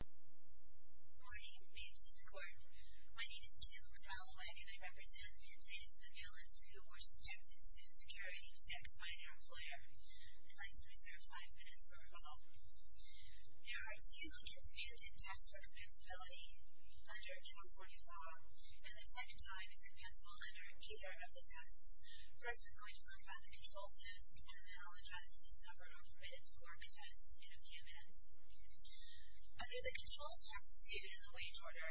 Good morning. May it please the court. My name is Kim Kralwek and I represent the data surveillance who were subjected to security checks by their employer. I'd like to reserve five minutes for rebuttal. There are two independent tests for compensability under California law, and the check time is compensable under either of the tests. First, we're going to talk about the control test, and then I'll address the suffered or permitted to work test in a few minutes. Under the control test stated in the wage order,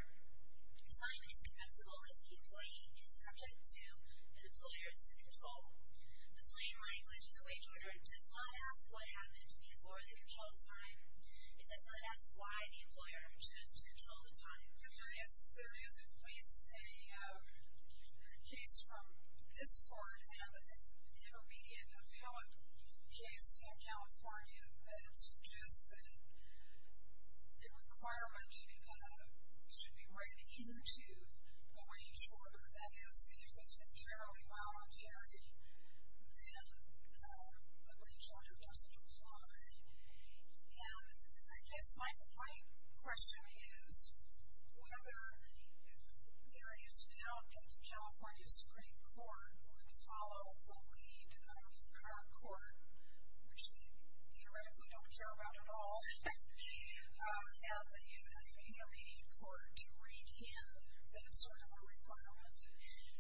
time is compensable if the employee is subject to an employer's control. The plain language of the wage order does not ask what happened before the control time. It does not ask why the employer chose to control the time. And I ask, there is at least a case from this court and an intermediate appellate case in California that suggests that a requirement should be read into the wage order, that is, if it's entirely voluntary, then the wage order doesn't apply. And I guess my question is whether there is doubt that California's Supreme Court would follow the lead of our court, which we theoretically don't care about at all, and the intermediate court to read in that sort of a requirement.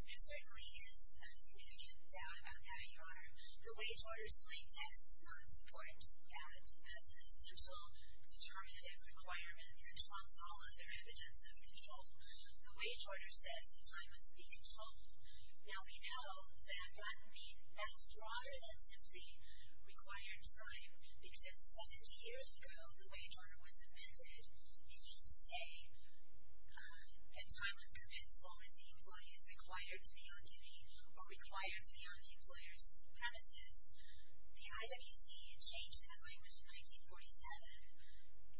There certainly is significant doubt about that, Your Honor. The wage order's plain text does not support that as an essential determinative requirement, and it trumps all other evidence of control. The wage order says that time must be controlled. Now, we know that that's broader than simply required time, because 70 years ago the wage order was amended. It used to say that time was compensable if the employee is required to be on duty or required to be on the employer's premises. The IWC had changed that language in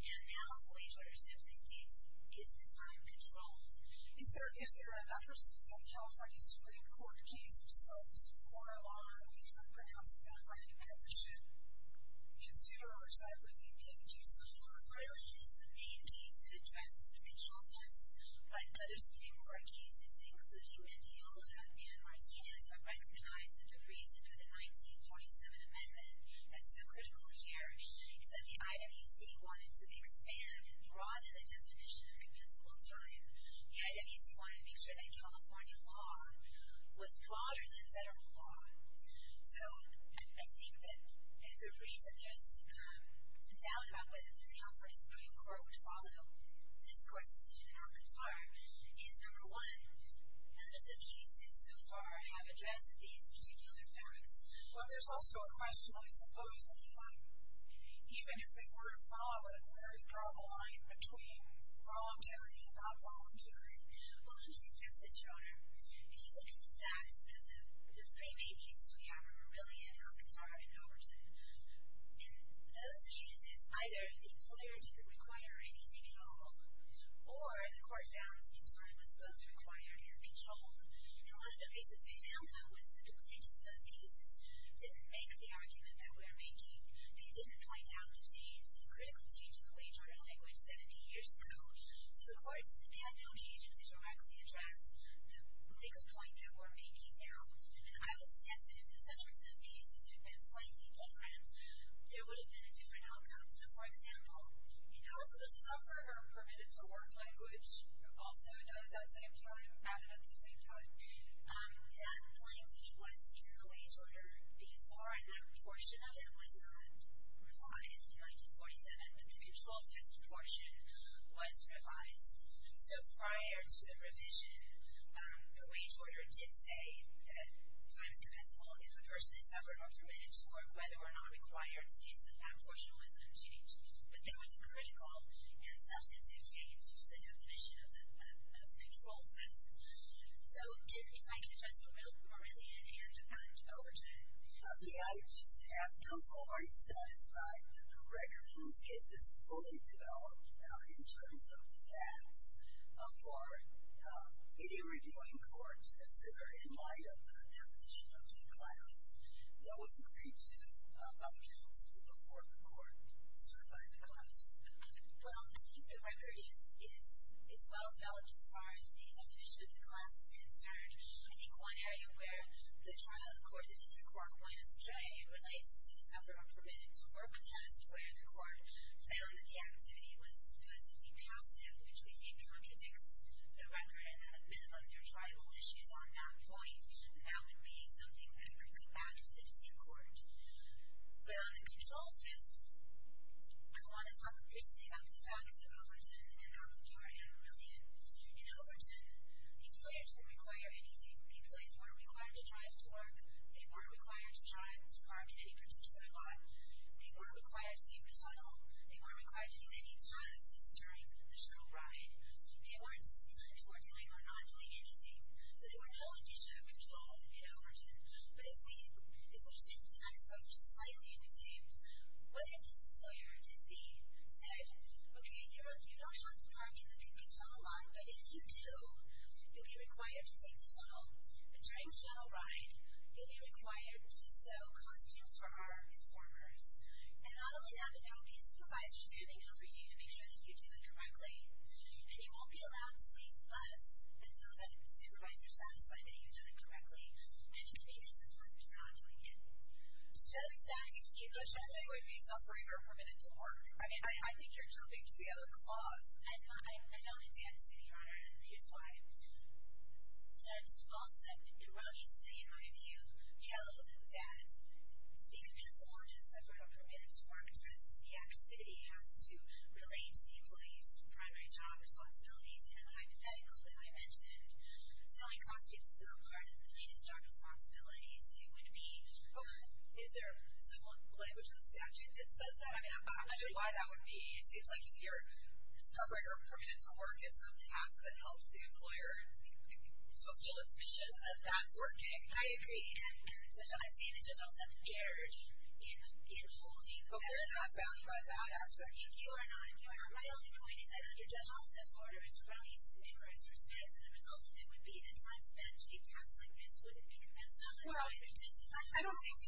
1947, and now the wage order simply states, is the time controlled? Is there an effort to make California's Supreme Court a case of some sort, or a law that we try to pronounce without writing a petition? Do you consider or recite what we've been up to so far? Really, it is the main piece that addresses the control test. But other Supreme Court cases, including Mendiel and Martinez, have recognized that the reason for the 1947 amendment that's so critical here is that the IWC wanted to expand and broaden the definition of compensable time. The IWC wanted to make sure that California law was broader than federal law. So, I think that the reason there's some doubt about whether the California Supreme Court would follow this court's decision on Qatar is, number one, none of the cases so far have addressed these particular facts. But there's also a question, I suppose, even if they were to follow a very broad line between voluntary and non-voluntary, well, let me suggest this, Your Honor. If you look at the facts of the three main cases we have, or really in Qatar and Overton, in those cases, either the employer didn't require any ZPL, or the court found that time was both required and controlled. And one of the reasons they failed, though, was that the plaintiffs in those cases didn't make the argument that we're making. They didn't write down the change, the critical change in the wage order language 70 years ago, so the courts didn't have an occasion to directly address the complaint that we're making now. And I would suggest that if the sufferers in those cases had been slightly different, there would have been a different outcome. So, for example, if the sufferer permitted to work language, also noted at the same time, added at the same time, that language was in the wage order before that portion of it was not revised in 1947. The control test portion was revised. So prior to the revision, the wage order did say that time is compensable if a person is suffered or permitted to work, whether or not required to do so. That portion was unchanged. But there was a critical and substantive change to the definition of the control test. So, if I can address Morelian and Overton. Yeah, I was just going to ask, counsel, are you satisfied that the record in these cases fully developed in terms of the facts for any reviewing court to consider in light of the definition of the class that was agreed to by the counsel before the court certified the class? Well, I think the record is well developed as far as the definition of the class is concerned. I think one area where the trial court, the district court, went astray relates to the sufferer permitted to work test, where the court found that the activity was solicitly passive, which we think contradicts the record, and had a bit of other tribal issues on that point. That would be something that could go back to the district court. But on the control test, I want to talk briefly about the facts of Overton and how to do our Morelian. In Overton, employers didn't require anything. Employees weren't required to drive to work. They weren't required to drive to park in any particular lot. They weren't required to take the shuttle. They weren't required to do any tasks during the shuttle ride. They weren't disciplined for doing or not doing anything. So, there were no additional control in Overton. But if we shift the next focus slightly and resume, what if this employer, Disney, said, okay, you don't have to park in the big tunnel lot, but if you do, you'll be required to take the shuttle. During the shuttle ride, you'll be required to sew costumes for our informers. And not only that, but there will be supervisors standing over you to make sure that you do it correctly, and you won't be allowed to leave the bus until the supervisor satisfies that you've done it correctly, and you can be disciplined for not doing it. Those facts you mentioned would be suffering or permitted to work. I mean, I think you're jumping to the other clause. I don't intend to, Your Honor, and here's why. Judge Paulson, in Roney's name, I have you held that to be compensable in terms of suffering or permitted to work, it has to be activity, it has to relate to the employee's primary job responsibilities, and the hypothetical that I mentioned, sewing costumes is not a part of Disney's job responsibilities. It would be, is there some language in the statute that says that? I mean, I'm not sure why that would be. It seems like if you're suffering or permitted to work, it's some task that helps the employer fulfill its mission, that that's working. I agree. And, Judge, I've seen that Judge Allstep erred in holding that. But where does that stand in that aspect? Your Honor, my only point is that under Judge Allstep's order, it's Roney's name in Reister's case, and the result of it would be that time spent doing tasks like this wouldn't be compensable. No, I don't think so.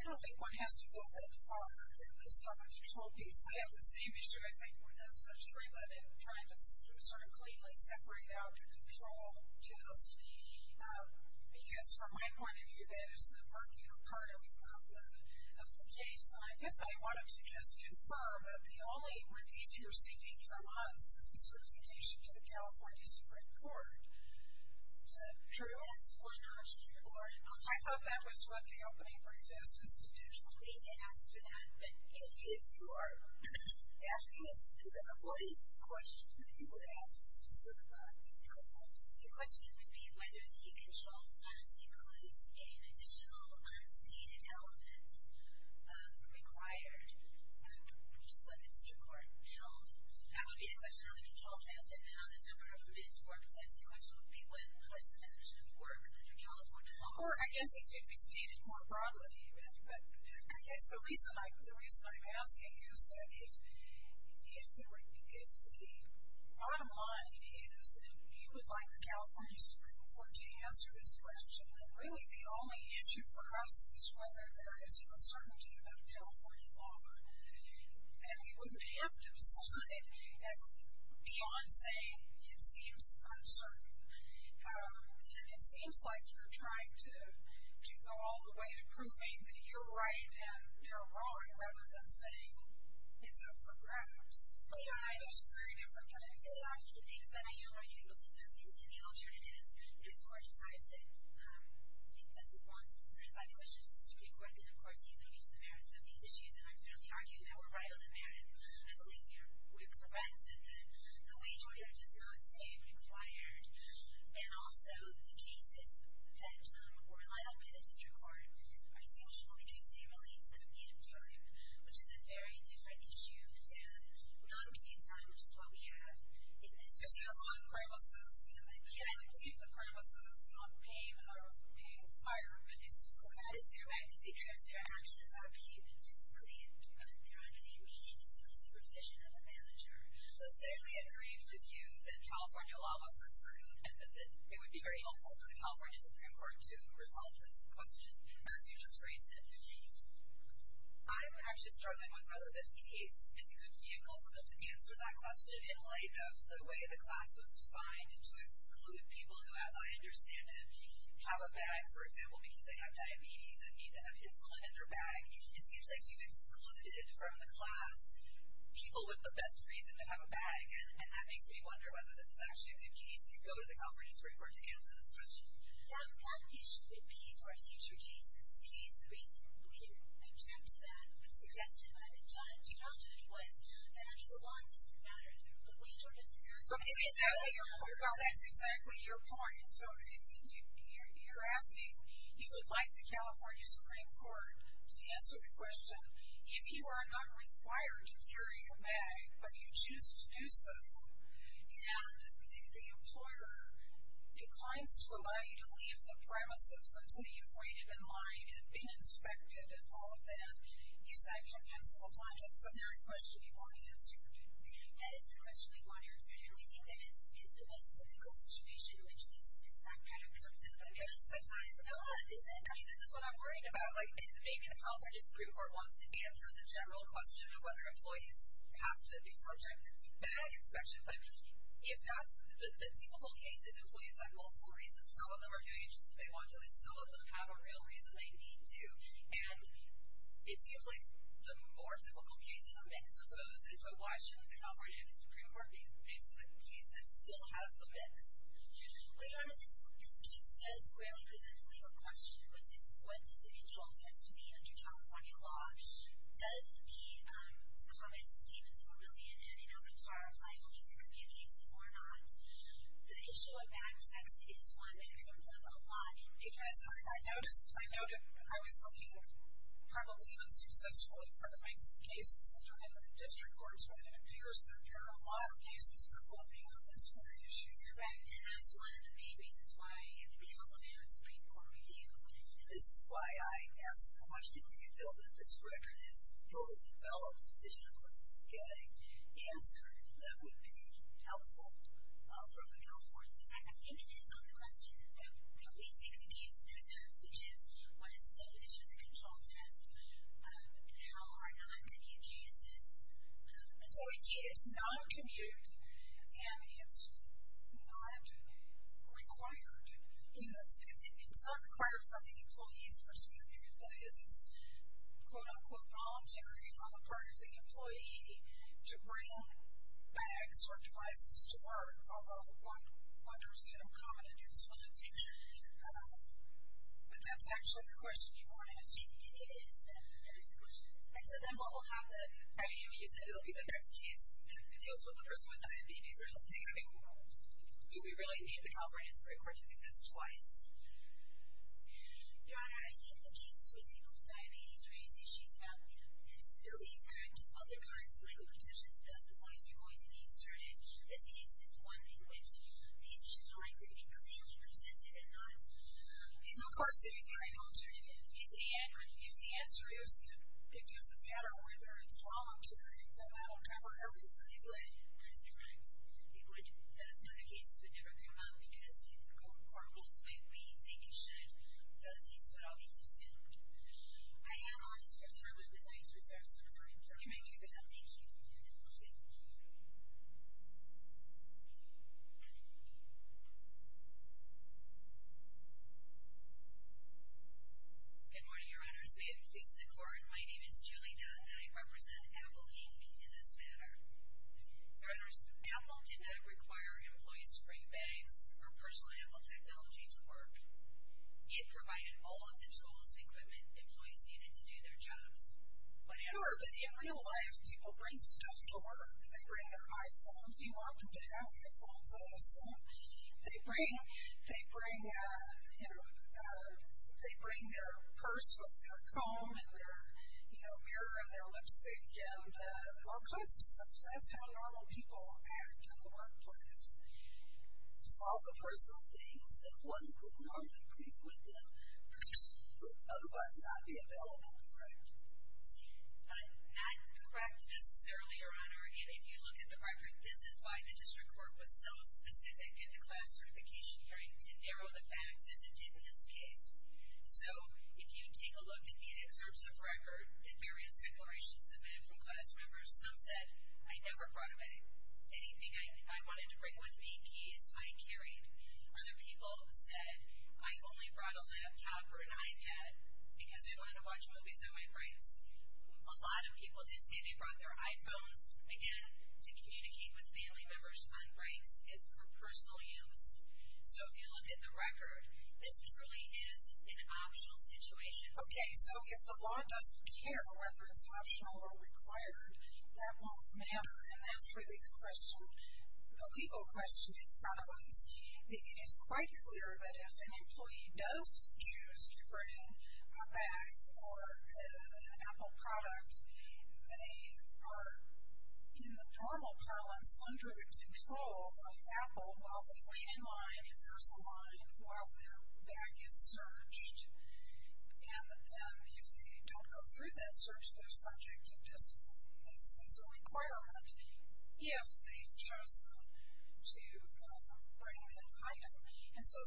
I don't think one has to go that far in the self-control piece. I have the same issue, I think, with Judge Stranglett in trying to sort of cleanly separate out your control just because, from my point of view, that is the murkier part of the case. And I guess I wanted to just confirm that the only review you're seeking from us is a certification to the California Supreme Court. Is that true? That's one option, Your Honor. I thought that was what the opening protest was to do. We did ask for that. But if you are asking us to do that, what is the question that you would ask us to sort of do for our folks? Your question would be whether the control test includes an additional unstated element from required purchase by the Supreme Court. Now, that would be the question on the control test. And then on the self-reproach work test, the question would be what is the definition of work under California law. Well, I guess it could be stated more broadly. But I guess the reason I'm asking is that if the bottom line is that we would like the California Supreme Court to answer this question, then really the only issue for us is whether there is uncertainty about California law. And we wouldn't have to decide. Beyond saying it seems uncertain. And it seems like you're trying to go all the way to proving that you're right and you're wrong rather than saying it's up for grabs. Well, Your Honor, I think that's a very different kind of argument. It is, but I am arguing that those can be the alternatives. If the Court decides that it doesn't want to certify the questions to the Supreme Court, then, of course, you would reach the merits of these issues. And I'm certainly arguing that we're right on the merits. I believe you're correct that the wage order does not say required. And also, the cases that were relied on by the District Court are distinguishable because they relate to the need of jail time, which is a very different issue than non-jail time, which is what we have in this case. There's not a lot of criminal suits. You know, they can't, if the criminal suit is not paying, are being fired from the district court. That is correct because their actions are being physically, but they're under the immediate supervision of a manager. So say we agreed with you that California law was uncertain and that it would be very helpful for the California Supreme Court to resolve this question as you just raised it. I'm actually struggling with whether this case is a good vehicle for them to answer that question in light of the way the class was defined and to exclude people who, as I understand it, have a bag, for example, because they have diabetes and need to have insulin in their bag. It seems like you've excluded from the class people with the best reason to have a bag, and that makes me wonder whether this is actually a good case to go to the California Supreme Court to answer this question. That issue would be for a future case. This case, the reason we objected to that suggestion by the judge, you talked to the judge, was that actual law doesn't matter. The way Georgia Supreme Court does it, it doesn't matter. That's exactly your point. And so you're asking, you would like the California Supreme Court to answer the question, if you are not required to carry your bag, but you choose to do so, and the employer declines to allow you to leave the premises until you've waited in line and been inspected and all of that, is that compensable time? That's the very question you want answered. That is the question we want answered. And we think that it's the most difficult situation, which leads to this fact that it comes into play. I mean, this is what I'm worried about. Like, maybe the California Supreme Court wants to answer the general question of whether employees have to be subject to bag inspection. But if not, the typical case is employees have multiple reasons. Some of them are doing it just because they want to, and some of them have a real reason they need to. And it seems like the more typical case is a mix of those. And so, why should the California Supreme Court be faced with a case that still has the mix? Well, Your Honor, this case does squarely present a legal question, which is what does the control test need to be under California law? Does the comments of Stevens and Marillion and Inalcatrar apply only to community cases or not? The issue of bag inspection is one that comes up a lot. It does. I noticed. I noticed. I was looking, probably unsuccessfully, for the banks of cases, and the district court is one. It appears that there are a lot of cases revolving around this very issue. Correct. And that's one of the main reasons why I am in the California Supreme Court Review. This is why I asked the question, do you feel that this record is fully developed, does it look to get an answer that would be helpful from the California side? I think it is on the question that we think the case presents, which is what is the definition of the control test? How are non-commute cases adjudicated? It's non-commute, and it's not required. It's not required from the employee's perspective, but it is quote-unquote voluntary on the part of the employee to bring bags And that's actually the question you wanted to see? It is. It is the question. And so then what will happen? I mean, you said it will be the next case. It deals with the person with diabetes or something. I mean, do we really need the California Supreme Court to do this twice? Your Honor, I think the case with people with diabetes or any issues about, you know, disabilities and other kinds of legal protections to those employees are going to be asserted. This case is one in which these issues are likely to be clearly presented and not. In McCarty, I don't turn it in. He said he had not used the answer. He was going to pick just a matter of whether it's wrong to allow Trevor Irwin to be bled. That is correct. He bled. Those and other cases would never come up, because if the court rules the way we think it should, those cases would all be subsumed. I am honored to have time. I would like to reserve some time for you. Thank you. Good morning, Your Honors. May it please the Court, my name is Julie Dondi. I represent Apple Inc. in this matter. Your Honors, Apple did not require employees to bring bags or personal Apple technology to work. It provided all of the tools and equipment employees needed to do their jobs. But in real life, people bring stuff to work. They bring their iPhones. You want them to have iPhones, I assume. They bring their purse with their comb and their mirror and their lipstick and all kinds of stuff. That's how normal people act in the workplace. It's all the personal things that one would normally bring with them that would otherwise not be available, correct? Not correct, necessarily, Your Honor. And if you look at the record, this is why the district court was so specific in the class certification hearing to narrow the facts as it did in this case. So if you take a look at the excerpts of record and various declarations submitted from class members, some said, I never brought away anything I wanted to bring with me, keys I carried. Other people said, I only brought a laptop or an iPad because I wanted to watch movies on my breaks. A lot of people did say they brought their iPhones, again, to communicate with family members on breaks. It's for personal use. So if you look at the record, this truly is an optional situation. Okay, so if the law doesn't care whether it's optional or required, that won't matter. And that's really the question, the legal question in front of us. It is quite clear that if an employee does choose to bring a bag or an Apple product, they are in the normal parlance under the control of Apple while they wait in line if there's a line while their bag is searched. And if they don't go through that search, they're subject to discipline. It's a requirement if they've chosen to bring an item. And so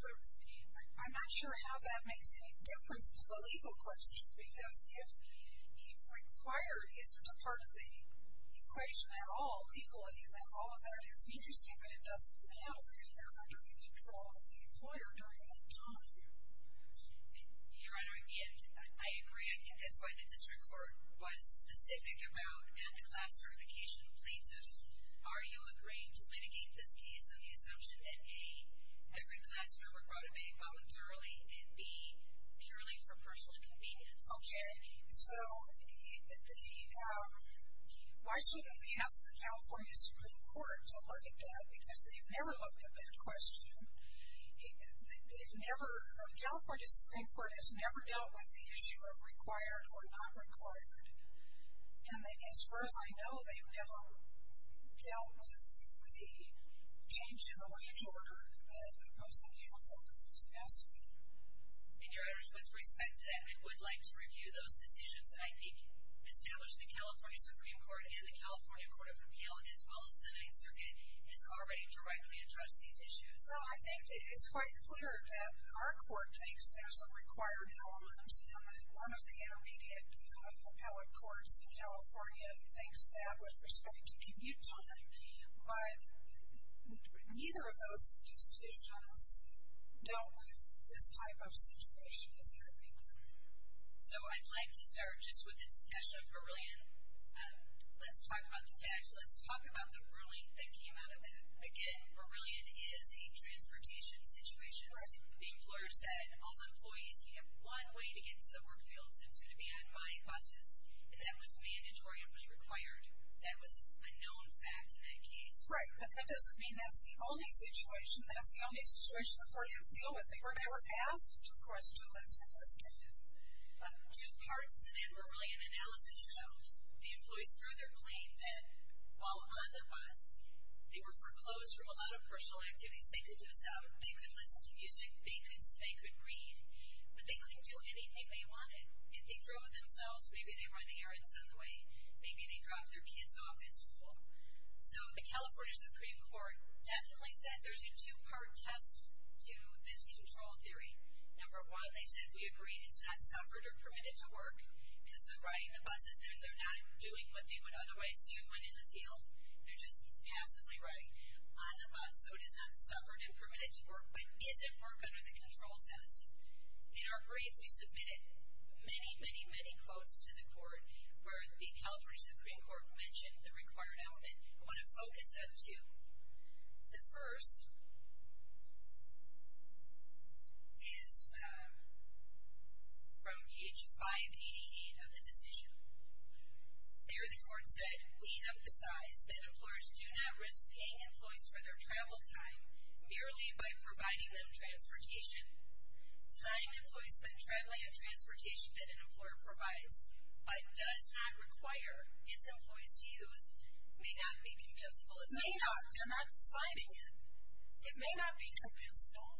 I'm not sure how that makes any difference to the legal question because if required isn't a part of the equation at all, equally, then all of that is interesting, but it doesn't matter if they're under the control of the employer during that time. Your Honor, again, I agree. I think that's why the district court was specific about and the class certification plaintiffs. Are you agreeing to litigate this case on the assumption that, A, every class member brought a bag voluntarily, and, B, purely for personal convenience? Okay, so why shouldn't we ask the California Supreme Court to look at that because they've never looked at that question. They've never, the California Supreme Court has never dealt with the issue of required or not required. And as far as I know, they've never dealt with the change in the wage order that the opposing counsel was discussing. And, Your Honor, with respect to that, we would like to review those decisions. And I think establishing the California Supreme Court and the California Court of Appeal, as well as the Ninth Circuit, has already directly addressed these issues. So I think it's quite clear that our court thinks there's a required element, and that one of the intermediate appellate courts in California thinks that with respect to commute time. But neither of those decisions dealt with this type of situation. Is that right, Your Honor? So I'd like to start just with the discussion of Verillion. Let's talk about the facts. Let's talk about the ruling that came out of that. Again, Verillion is a transportation situation. The employer said, all employees, you have one way to get to the work fields, and it's going to be on my buses. And that was mandatory and was required. That was a known fact in that case. Right. But that doesn't mean that's the only situation. That's the only situation the courtyards deal with. They were never passed. Of course, two months in this case. Two parts to that Verillion analysis showed. The employees drew their claim that while on the bus, they were foreclosed from a lot of personal activities they could do. So they could listen to music, they could read, but they couldn't do anything they wanted. If they drove themselves, maybe they were on the air and subway, maybe they dropped their kids off at school. So the California Supreme Court definitely said there's a two-part test to this control theory. Number one, they said, we agree, it's not suffered or permitted to work because they're riding the buses, and they're not doing what they would otherwise do when in the field. They're just passively riding on the bus. So it is not suffered and permitted to work, but is it work under the control test? In our brief, we submitted many, many, many quotes to the court where the California Supreme Court mentioned the required element. I want to focus on two. The first is from page 588 of the decision. There, the court said, we emphasize that employers do not risk paying employees for their travel time merely by providing them transportation. Time employees spend traveling in transportation that an employer provides but does not require its employees to use may not be compensable. It may not. They're not deciding it. It may not be compensable.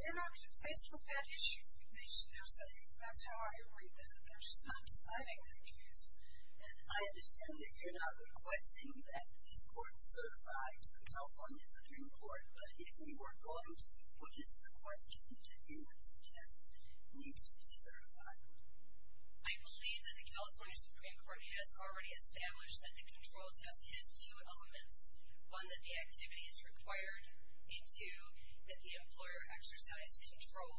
They're not faced with that issue. They're saying, that's how I read that. They're just not deciding their case. And I understand that you're not requesting that this court certify to the California Supreme Court, but if we were going to, what is the question that you would suggest needs to be certified? I believe that the California Supreme Court has already established that the control test has two elements. One, that the activity is required, and two, that the employer exercise control,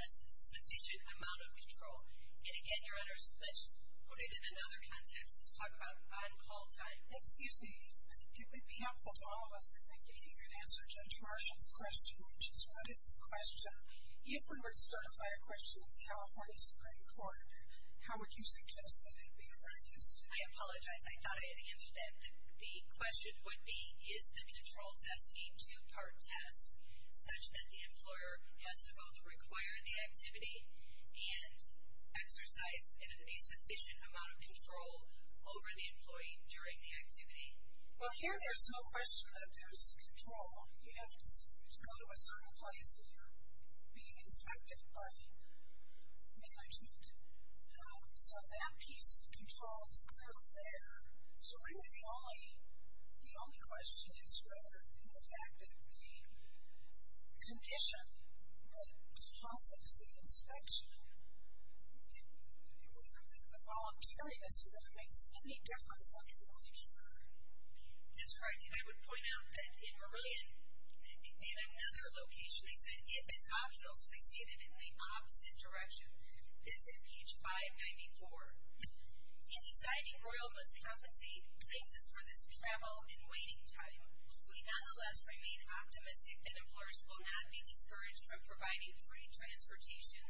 a sufficient amount of control. And, again, Your Honor, let's put it in another context. Let's talk about on-call time. Excuse me. It would be helpful to all of us, I think, if you could answer Judge Marshall's question, which is, what is the question? If we were to certify a question with the California Supreme Court, how would you suggest that it be produced? I apologize. I thought I had answered that. The question would be, is the control test a two-part test, such that the employer has to both require the activity and exercise a sufficient amount of control over the employee during the activity? Well, here there's no question that there's control. You have to go to a certain place, and you're being inspected by management. So that piece of control is clearly there. So really, the only question is, rather than the fact that the condition that causes the inspection, do you believe that the voluntariness of that makes any difference on the employee's part? That's correct. And I would point out that in Meridian, in another location, they said if it's optional, so they stated in the opposite direction, this is page 594. In deciding Royal Bus Company thanks us for this travel and waiting time, we nonetheless remain optimistic that employers will not be discouraged from providing free transportation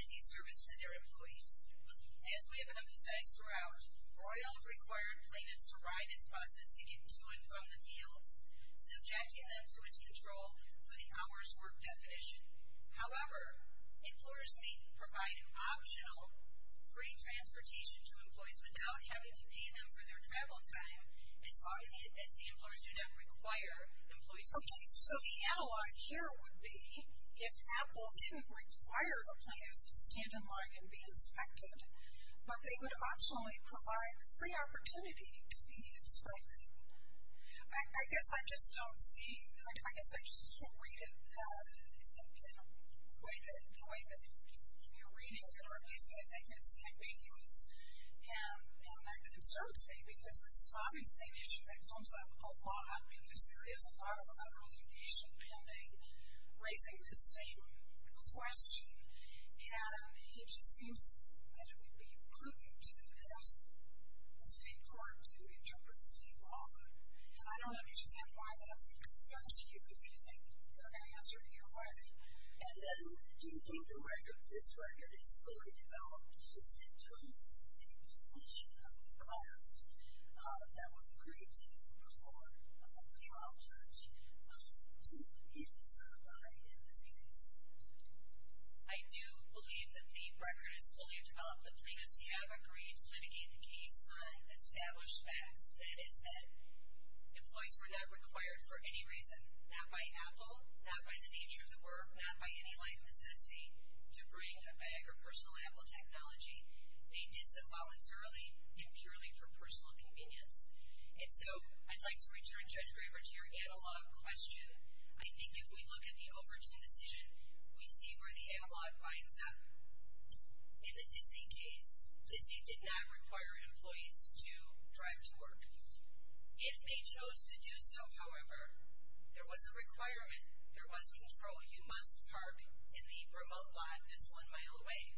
as a service to their employees. As we have emphasized throughout, Royal required plaintiffs to ride its buses to get to and from the fields, subjecting them to its control for the hours work definition. However, employers may provide optional free transportation to employees without having to pay them for their travel time, as long as the employers do not require employees to pay for it. Okay, so the analog here would be if Apple didn't require the plaintiffs to stand in line and be inspected, but they would optionally provide free opportunity to be inspected. I guess I just don't see it. I guess I just can't read it in the way that you're reading it, or at least I think it's ambiguous. And that concerns me because this is obviously an issue that comes up a lot because there is a lot of other litigation pending raising this same question. And it just seems that it would be prudent to ask the state court to interpret state law. And I don't understand why that's a concern to you. Is there an answer to your question? And then do you think this record is fully developed just in terms of the definition of the class that was agreed to before the trial judge to even certify in this case? I do believe that the record is fully developed. The plaintiffs have agreed to litigate the case on established facts. That is that employees were not required for any reason, not by Apple, not by the nature of the work, not by any life necessity, to bring a personal Apple technology. They did so voluntarily and purely for personal convenience. And so I'd like to return, Judge Graber, to your analog question. I think if we look at the Overton decision, we see where the analog winds up. In the Disney case, Disney did not require employees to drive to work. If they chose to do so, however, there was a requirement. There was control. You must park in the remote lot that's one mile away.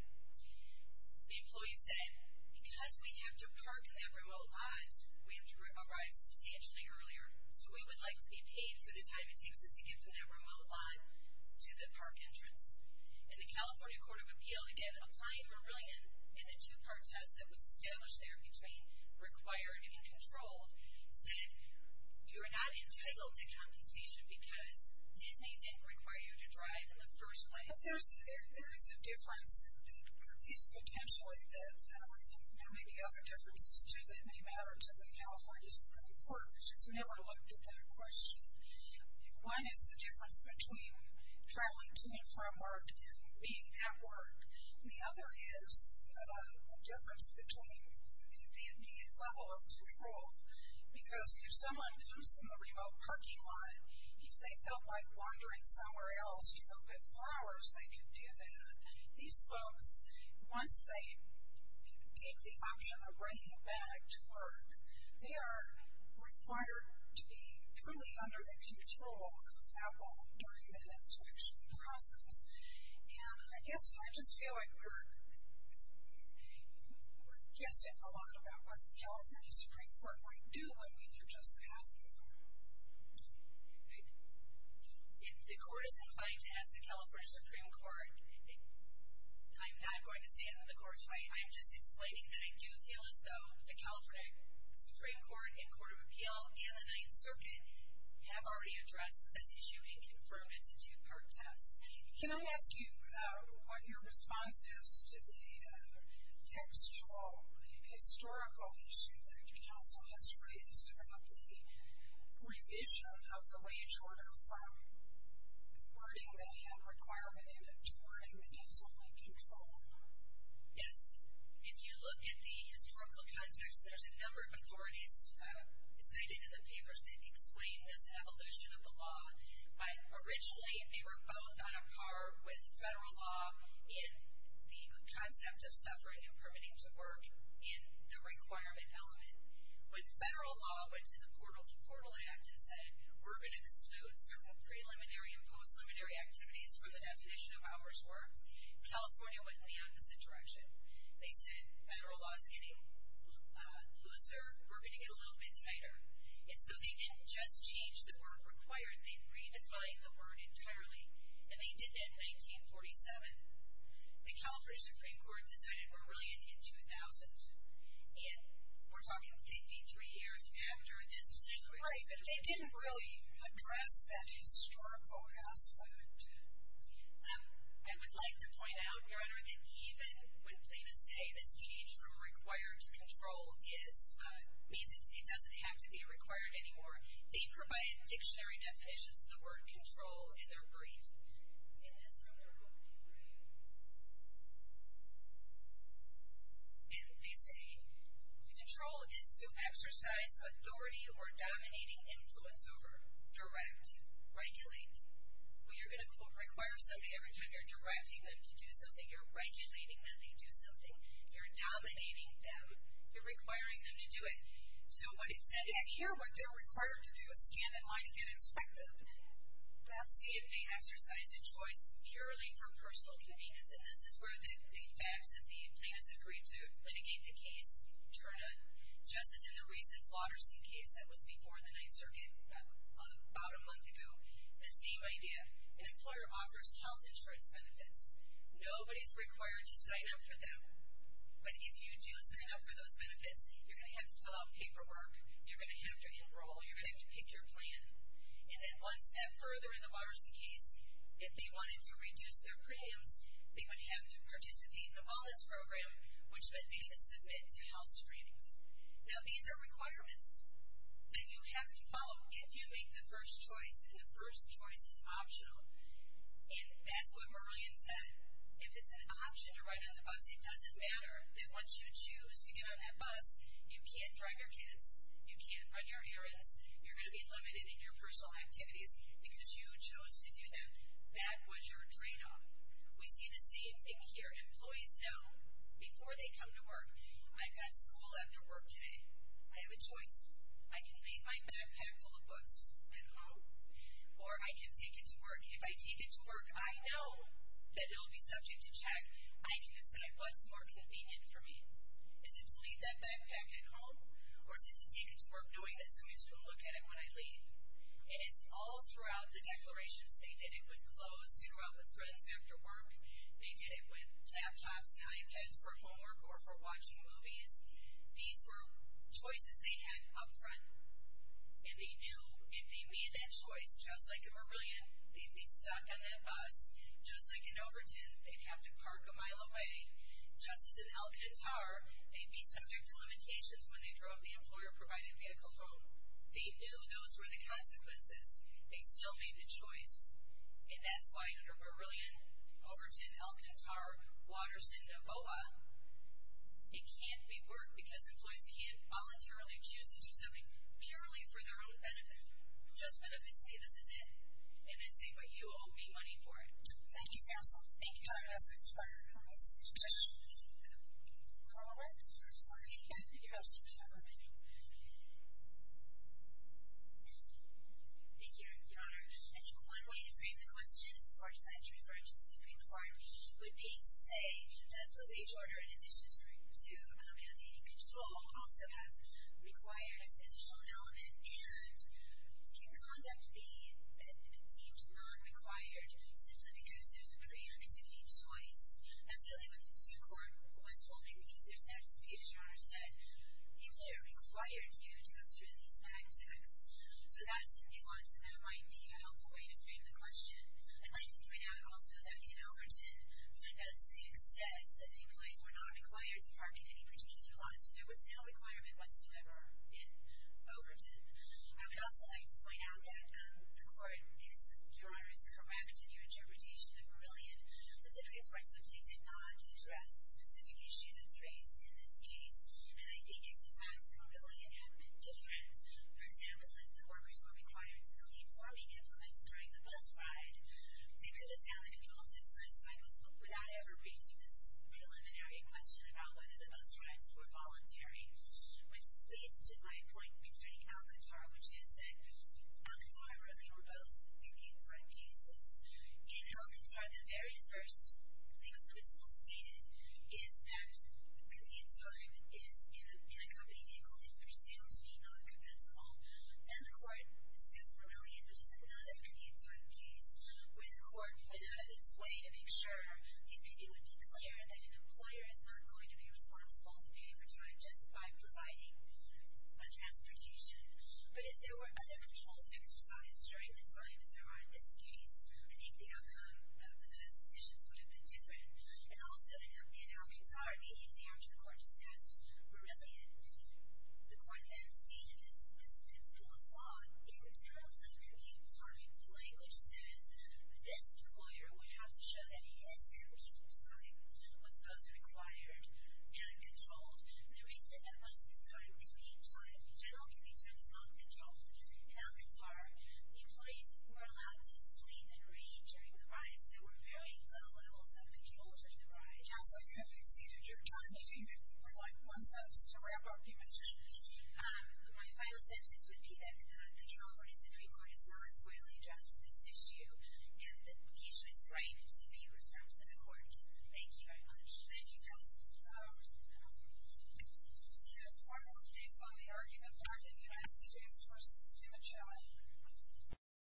The employee said, because we have to park in that remote lot, we have to arrive substantially earlier, so we would like to be paid for the time it takes us to get from that remote lot to the park entrance. And the California Court of Appeals, again, applying Marillion and the two-part test that was established there between required and controlled, said you are not entitled to compensation because Disney didn't require you to drive in the first place. But there is a difference, and it is potentially the matter, and there may be other differences, too, that may matter to the California Supreme Court, which has never looked at that question. One is the difference between traveling to and from work and being at work. The other is the difference between the level of control, because if someone comes from the remote parking lot, if they felt like wandering somewhere else to go pick flowers, they could do that. These folks, once they take the option of bringing back to work, they are required to be truly under the control of Apple during that inspection process. And I guess I just feel like we're guessing a lot about what the California Supreme Court might do with what you're just asking. If the Court is inclined to ask the California Supreme Court, I'm not going to stand in the Court's way. I'm just explaining that I do feel as though the California Supreme Court and Court of Appeal and the Ninth Circuit have already addressed this issue and confirmed it's a two-part test. Can I ask you what your response is to the textual, historical issue that counsel has raised about the revision of the wage order from awarding the hand requirement to awarding the use-only control? Yes. If you look at the historical context, there's a number of authorities cited in the papers that explain this evolution of the law. Originally, they were both on a par with federal law in the concept of suffering and permitting to work in the requirement element. When federal law went to the Portal to Portal Act and said, we're going to exclude certain preliminary and post-liminary activities from the definition of hours worked, California went in the opposite direction. They said federal law is getting looser. We're going to get a little bit tighter. And so they didn't just change the word required. They redefined the word entirely. And they did that in 1947. The California Supreme Court decided we're really in 2000. And we're talking 53 years after this. Right. They didn't really address that historical aspect. I would like to point out, Your Honor, that even when plaintiffs say this change from required to control means it doesn't have to be required anymore, they provide dictionary definitions of the word control in their brief in this room. And they say control is to exercise authority or dominating influence over, direct, regulate. When you're going to, quote, require somebody, every time you're directing them to do something, you're regulating that they do something. You're dominating them. You're requiring them to do it. So what it said is here what they're required to do is stand in line and get inspected. See, it may exercise a choice purely for personal convenience. And this is where the facts that the plaintiffs agreed to litigate the case, Your Honor, just as in the recent Waterstein case that was before the Ninth Circuit about a month ago, the same idea. An employer offers health insurance benefits. Nobody's required to sign up for them. But if you do sign up for those benefits, you're going to have to fill out paperwork. You're going to have to enroll. You're going to have to pick your plan. And then one step further in the Waterstein case, if they wanted to reduce their premiums, they would have to participate in a wellness program, which meant they had to submit to health screenings. Now, these are requirements that you have to follow if you make the first choice, and the first choice is optional. And that's what Merlion said. If it's an option to ride on the bus, it doesn't matter. They want you to choose to get on that bus. You can't drive your kids. You can't run your errands. You're going to be limited in your personal activities because you chose to do them. That was your tradeoff. We see the same thing here. Employees know before they come to work, I've got school after work today. I have a choice. I can leave my backpack full of books at home, or I can take it to work. If I take it to work, I know that it will be subject to check. I can decide what's more convenient for me. Is it to leave that backpack at home, or is it to take it to work knowing that someone is going to look at it when I leave? And it's all throughout the declarations. They did it with clothes. They did it with friends after work. They did it with laptops and iPads for homework or for watching movies. These were choices they had up front, and they knew if they made that choice, just like in Marillion, they'd be stuck on that bus. Just like in Overton, they'd have to park a mile away. Just as in El Cantar, they'd be subject to limitations when they drove the employer-provided vehicle home. They knew those were the consequences. They still made the choice, and that's why under Marillion, Overton, El Cantar, Waterston, and Boa, it can't be work because employees can't voluntarily choose to do something purely for their own benefit. Just for the fit's sake, this is it. And that's it. But you owe me money for it. Thank you, counsel. Thank you. Time has expired. Can we switch? I'm sorry. You have six hours remaining. Thank you, Your Honor. I think one way to frame the question is the court decides to refer it to the Supreme Court. It would be to say, does the wage order, in addition to mandating control, also have required as an additional element, and can conduct be deemed non-required simply because there's a pre-activity choice? I'm telling you what the Supreme Court was holding because there's an attitude, as Your Honor said, employers are required to go through these back checks. So that's a nuance, and that might be a helpful way to frame the question. I'd like to point out also that in Overton, Section 6 says that employees were not required to park in any particular lot, so there was no requirement whatsoever in Overton. I would also like to point out that the court is, Your Honor, is correct in your interpretation of Marillion. The Supreme Court simply did not address the specific issue that's raised in this case, and I think if the facts of Marillion had been different, for example, if the workers were required to clean farming implements during the bus ride, they could have found the control dissatisfied without ever reaching this preliminary question about whether the bus rides were voluntary, which leads to my point concerning Alcantara, which is that Alcantara really were both commute time cases. In Alcantara, the very first legal principle stated is that commute time in a company vehicle is presumed to be non-compensable, and the court discussed Marillion, which is another commute time case, where the court went out of its way to make sure that it would be clear that an employer is not going to be responsible to pay for time just by providing transportation. But if there were other controls exercised during the time as there are in this case, I think the outcome of those decisions would have been different. And also in Alcantara, immediately after the court discussed Marillion, the court then stated this principle of law. In terms of commute time, the language says this employer would have to show that his commute time was both required and controlled. The reason is that most of the time, commute time, general commute time, is not controlled. In Alcantara, the employees were allowed to sleep and read during the rides. So there were very low levels of control during the ride. Yes, so if you have exceeded your time, if you would like one sentence to wrap up, you may. My final sentence would be that the California Supreme Court is not as widely addressed in this issue, and that the issue is right to be referred to the court. Thank you very much. Thank you, Cassidy. We have one more case on the argument targeting United States v. Stewart Shelley.